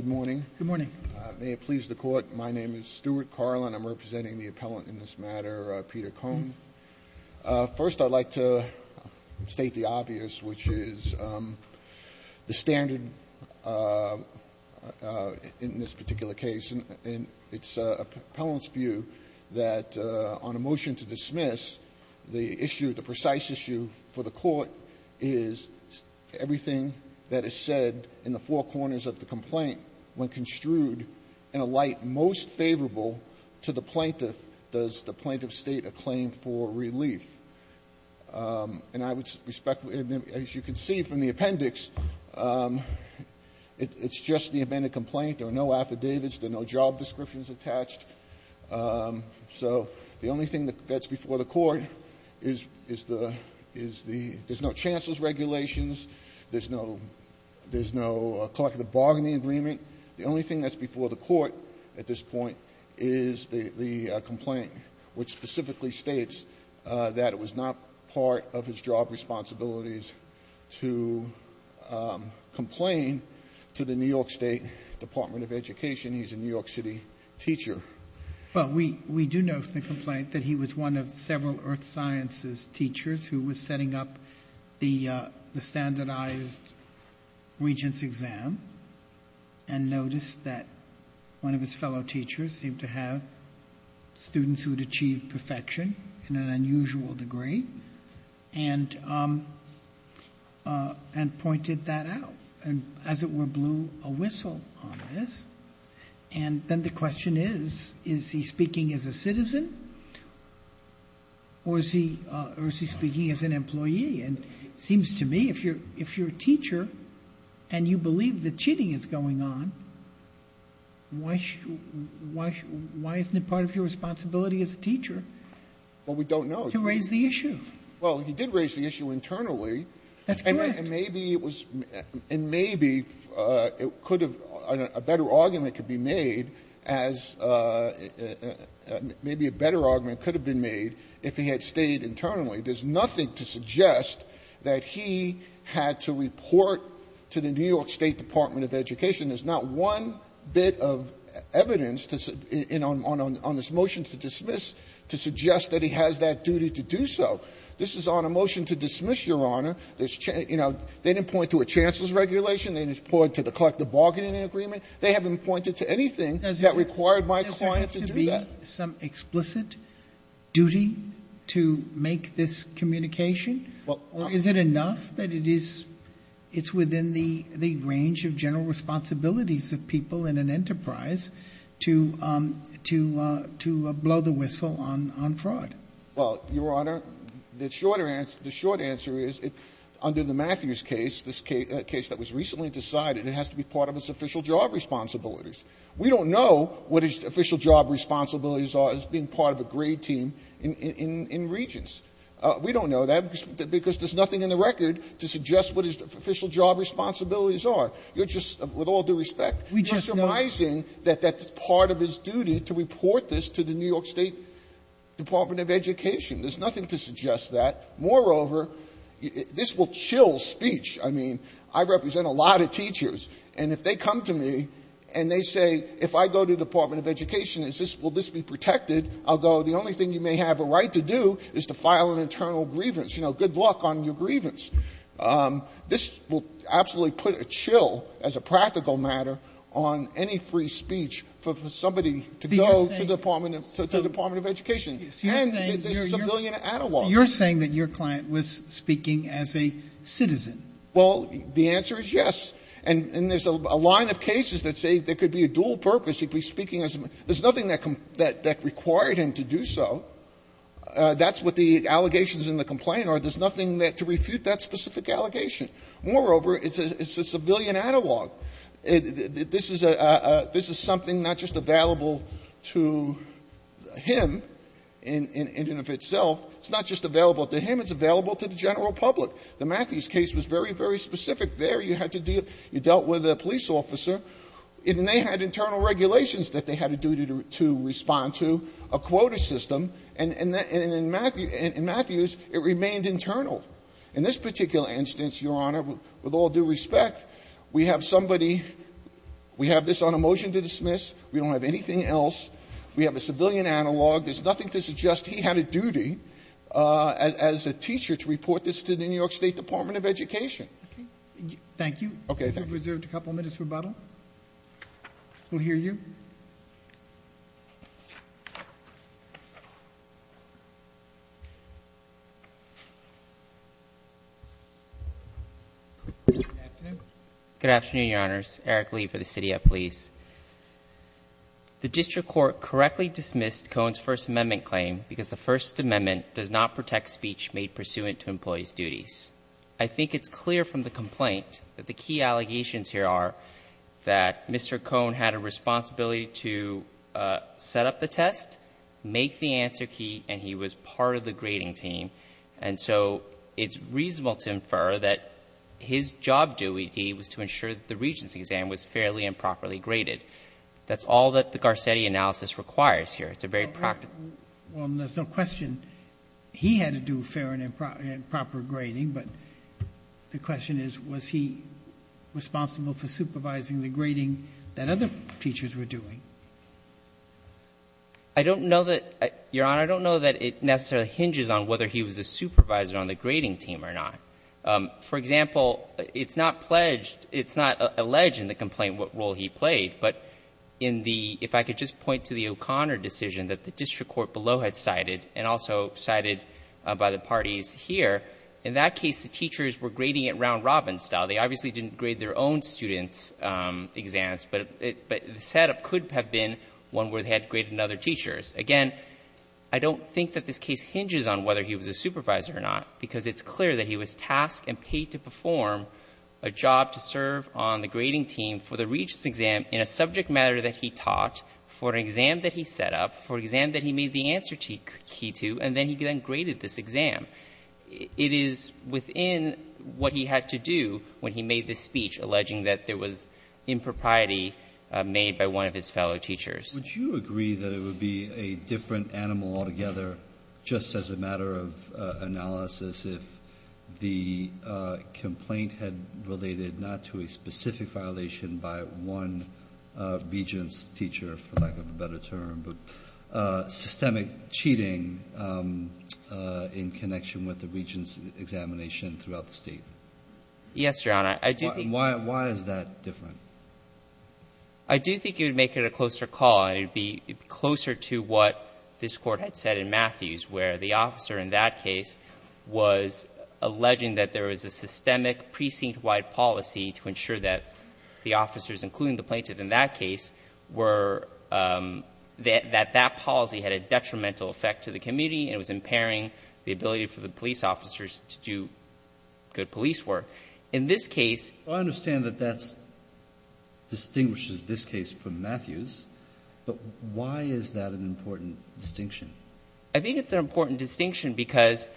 Good morning. May it please the court, my name is Stuart Carlin. I'm representing the appellant in this matter, Peter Cohn. First I'd like to state the obvious, which is the standard in this particular case, and it's appellant's view that on a motion to dismiss, the issue, the precise issue for the court is everything that is said in the four corners of the complaint, when construed in a light most favorable to the plaintiff, does the plaintiff state a claim for relief? And I would respect, as you can see from the appendix, it's just the amended complaint. There are no affidavits. There are no job descriptions attached. So the only thing that's before the court is the, there's no chancellor's regulations. There's no collective bargaining agreement. The only thing that's before the court at this point is the complaint, which specifically states that it was not part of his job responsibilities to complain to the New York State Department of Education. He's a New York City teacher. Well, we do know from the complaint that he was one of several earth sciences teachers who was setting up the standardized regents exam and noticed that one of his fellow teachers seemed to have students who had achieved perfection in an unusual degree and pointed that out and, as it were, blew a whistle on this. And then the question is, is he speaking as a citizen or is he speaking as an employee? And it seems to me if you're a teacher and you believe that cheating is going on, why isn't it part of your responsibility as a teacher to raise the issue? Well, he did raise the issue internally. That's correct. And maybe it was, and maybe it could have, a better argument could be made as, maybe a better argument could have been made if he had stayed internally. There's nothing to suggest that he had to report to the New York State Department of Education. There's not one bit of evidence to, on this motion to dismiss, to suggest that he has that duty to do so. This is on a motion to dismiss, Your Honor. They didn't point to a chancellor's regulation. They didn't point to the collective bargaining agreement. They haven't pointed to anything that required my client to do that. Does there have to be some explicit duty to make this communication? Or is it enough that it's within the range of general responsibilities of people in an enterprise to blow the whistle on fraud? Well, Your Honor, the short answer is, under the Matthews case, this case that was recently decided, it has to be part of its official job responsibilities. We don't know what its official job responsibilities are as being part of a grade team in Regents. We don't know that because there's nothing in the record to suggest what its official job responsibilities are. You're just, with all due respect, you're surmising that that's part of his duty to report this to the New York State Department of Education. There's nothing to suggest that. Moreover, this will chill speech. I mean, I represent a lot of teachers, and if they come to me and they say, if I go to the Department of Education, will this be protected? I'll go, the only thing you may have a right to do is to file an internal grievance. You know, good luck on your grievance. This will absolutely put a chill, as a practical matter, on any free speech for somebody to go to the Department of Education. And there's a civilian analog. You're saying that your client was speaking as a citizen. Well, the answer is yes. And there's a line of cases that say there could be a dual purpose. He could be speaking as a citizen. There's nothing that required him to do so. That's what the allegations in the complaint are. There's nothing to refute that specific allegation. Moreover, it's a civilian analog. This is a — this is something not just available to him in and of itself. It's not just available to him. It's available to the general public. The Matthews case was very, very specific there. You had to deal — you dealt with a police officer, and they had internal regulations that they had a duty to respond to, a quota system. And in Matthews, it remained internal. In this particular instance, Your Honor, with all due respect, we have somebody — we have this on a motion to dismiss. We don't have anything else. We have a civilian analog. There's nothing to suggest he had a duty as a teacher to report this to the New York State Department of Education. Thank you. Okay. Thank you. We've reserved a couple minutes for rebuttal. We'll hear you. Good afternoon, Your Honors. Eric Lee for the City of Police. The district court correctly dismissed Cohn's First Amendment claim because the First Amendment does not protect speech made pursuant to employee's duties. I think it's clear from the complaint that the key allegations here are that Mr. Cohn had a responsibility to set up the test, make the answer key, and he was part of the grading team. And so it's reasonable to infer that his job duty was to ensure that the Regents' exam was fairly and properly graded. That's all that the Garcetti analysis requires here. It's a very practical — Well, there's no question he had to do fair and proper grading, but the question is, was he responsible for supervising the grading that other teachers were doing? I don't know that, Your Honor, I don't know that it necessarily hinges on whether he was a supervisor on the grading team or not. For example, it's not pledged, it's not alleged in the complaint what role he played, but in the — if I could just point to the O'Connor decision that the district court below had cited and also cited by the parties here, in that case the teachers were grading at round robin style. They obviously didn't grade their own students' exams, but the setup could have been one where they had to grade another teacher's. Again, I don't think that this case hinges on whether he was a supervisor or not, because it's clear that he was tasked and paid to perform a job to serve on the grading team for the Regents' exam in a subject matter that he taught for an exam that he set up, for an exam that he made the answer key to, and then he then graded this exam. It is within what he had to do when he made this speech alleging that there was impropriety made by one of his fellow teachers. Kennedy, would you agree that it would be a different animal altogether, just as a matter of analysis, if the complaint had related not to a specific violation by one Regents' teacher, for lack of a better term, but systemic cheating in connection with the Regents' examination throughout the State? Yes, Your Honor. I do think you would make it a closer call, and it would be closer to what this Court had said in Matthews, where the officer in that case was alleging that there was a systemic precinct-wide policy to ensure that the officers, including the plaintiff in that case, were — that that policy had a detrimental effect to the community and was impairing the ability for the police officers to do good police work. In this case — I understand that that distinguishes this case from Matthews, but why is that an important distinction? I think it's an important distinction because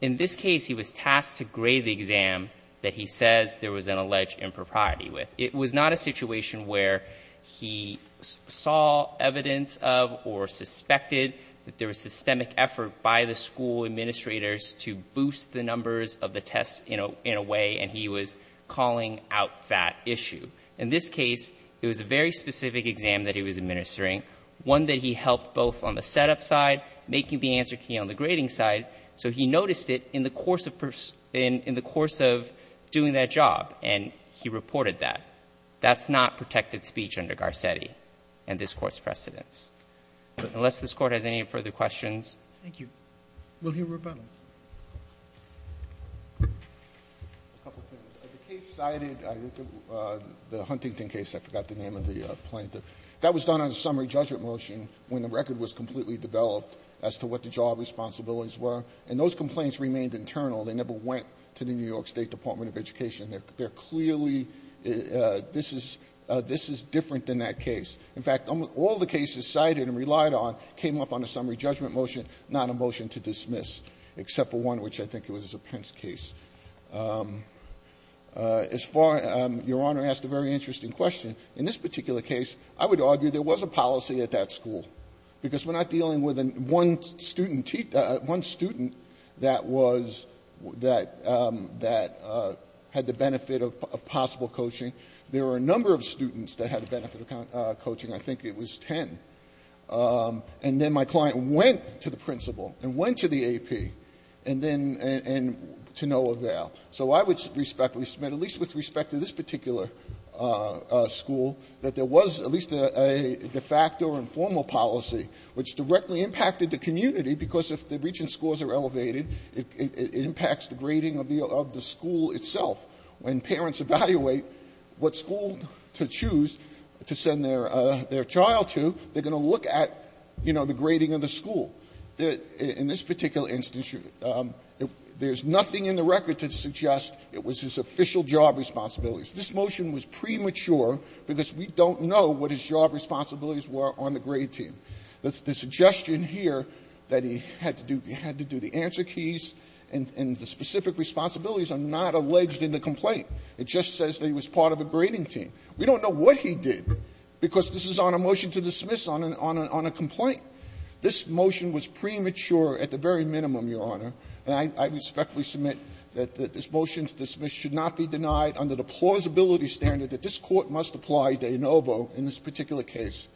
in this case he was tasked to grade the exam that he says there was an alleged impropriety with. It was not a situation where he saw evidence of or suspected that there was systemic effort by the school administrators to boost the numbers of the tests, you know, in a way, and he was calling out that issue. In this case, it was a very specific exam that he was administering, one that he helped both on the setup side, making the answer key on the grading side, so he noticed it in the course of — in the course of doing that job, and he reported that. That's not protected speech under Garcetti and this Court's precedents. Unless this Court has any further questions. Thank you. Will you rebuttal? A couple of things. The case cited the Huntington case, I forgot the name of the plaintiff. That was done on a summary judgment motion when the record was completely developed as to what the job responsibilities were. And those complaints remained internal. They never went to the New York State Department of Education. They're clearly — this is — this is different than that case. In fact, all the cases cited and relied on came up on a summary judgment motion, not a motion to dismiss, except for one which I think was a Pence case. As far — Your Honor asked a very interesting question. In this particular case, I would argue there was a policy at that school, because we're not dealing with one student — one student that was — that — that had the benefit of possible coaching. There were a number of students that had the benefit of coaching. I think it was 10. And then my client went to the principal and went to the AP, and then — and to no avail. So I would respectfully submit, at least with respect to this particular school, that there was at least a de facto or informal policy which directly impacted the community, because if the reaching scores are elevated, it impacts the grading of the — of the school itself. When parents evaluate what school to choose to send their — their child to, they're going to look at, you know, the grading of the school. In this particular instance, there's nothing in the record to suggest it was his official job responsibilities. This motion was premature because we don't know what his job responsibilities were on the grade team. The suggestion here that he had to do — he had to do the answer keys and the specific responsibilities are not alleged in the complaint. It just says that he was part of a grading team. We don't know what he did, because this is on a motion to dismiss on a — on a complaint. This motion was premature at the very minimum, Your Honor. And I respectfully submit that this motion to dismiss should not be denied under the plausibility standard that this Court must apply de novo in this particular case.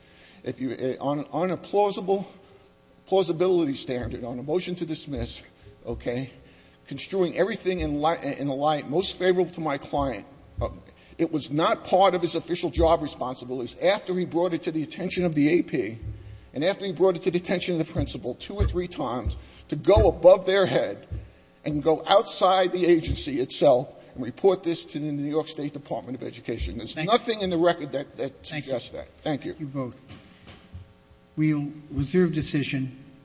If you — on a plausible — plausibility standard on a motion to dismiss, okay, construing everything in light — in a light most favorable to my client, it was not part of his official job responsibilities. After he brought it to the attention of the AP, and after he brought it to the attention of the principal two or three times to go above their head and go outside the agency itself and report this to the New York State Department of Education. There's nothing in the record that suggests that. Thank you. Thank you both. We'll reserve decision.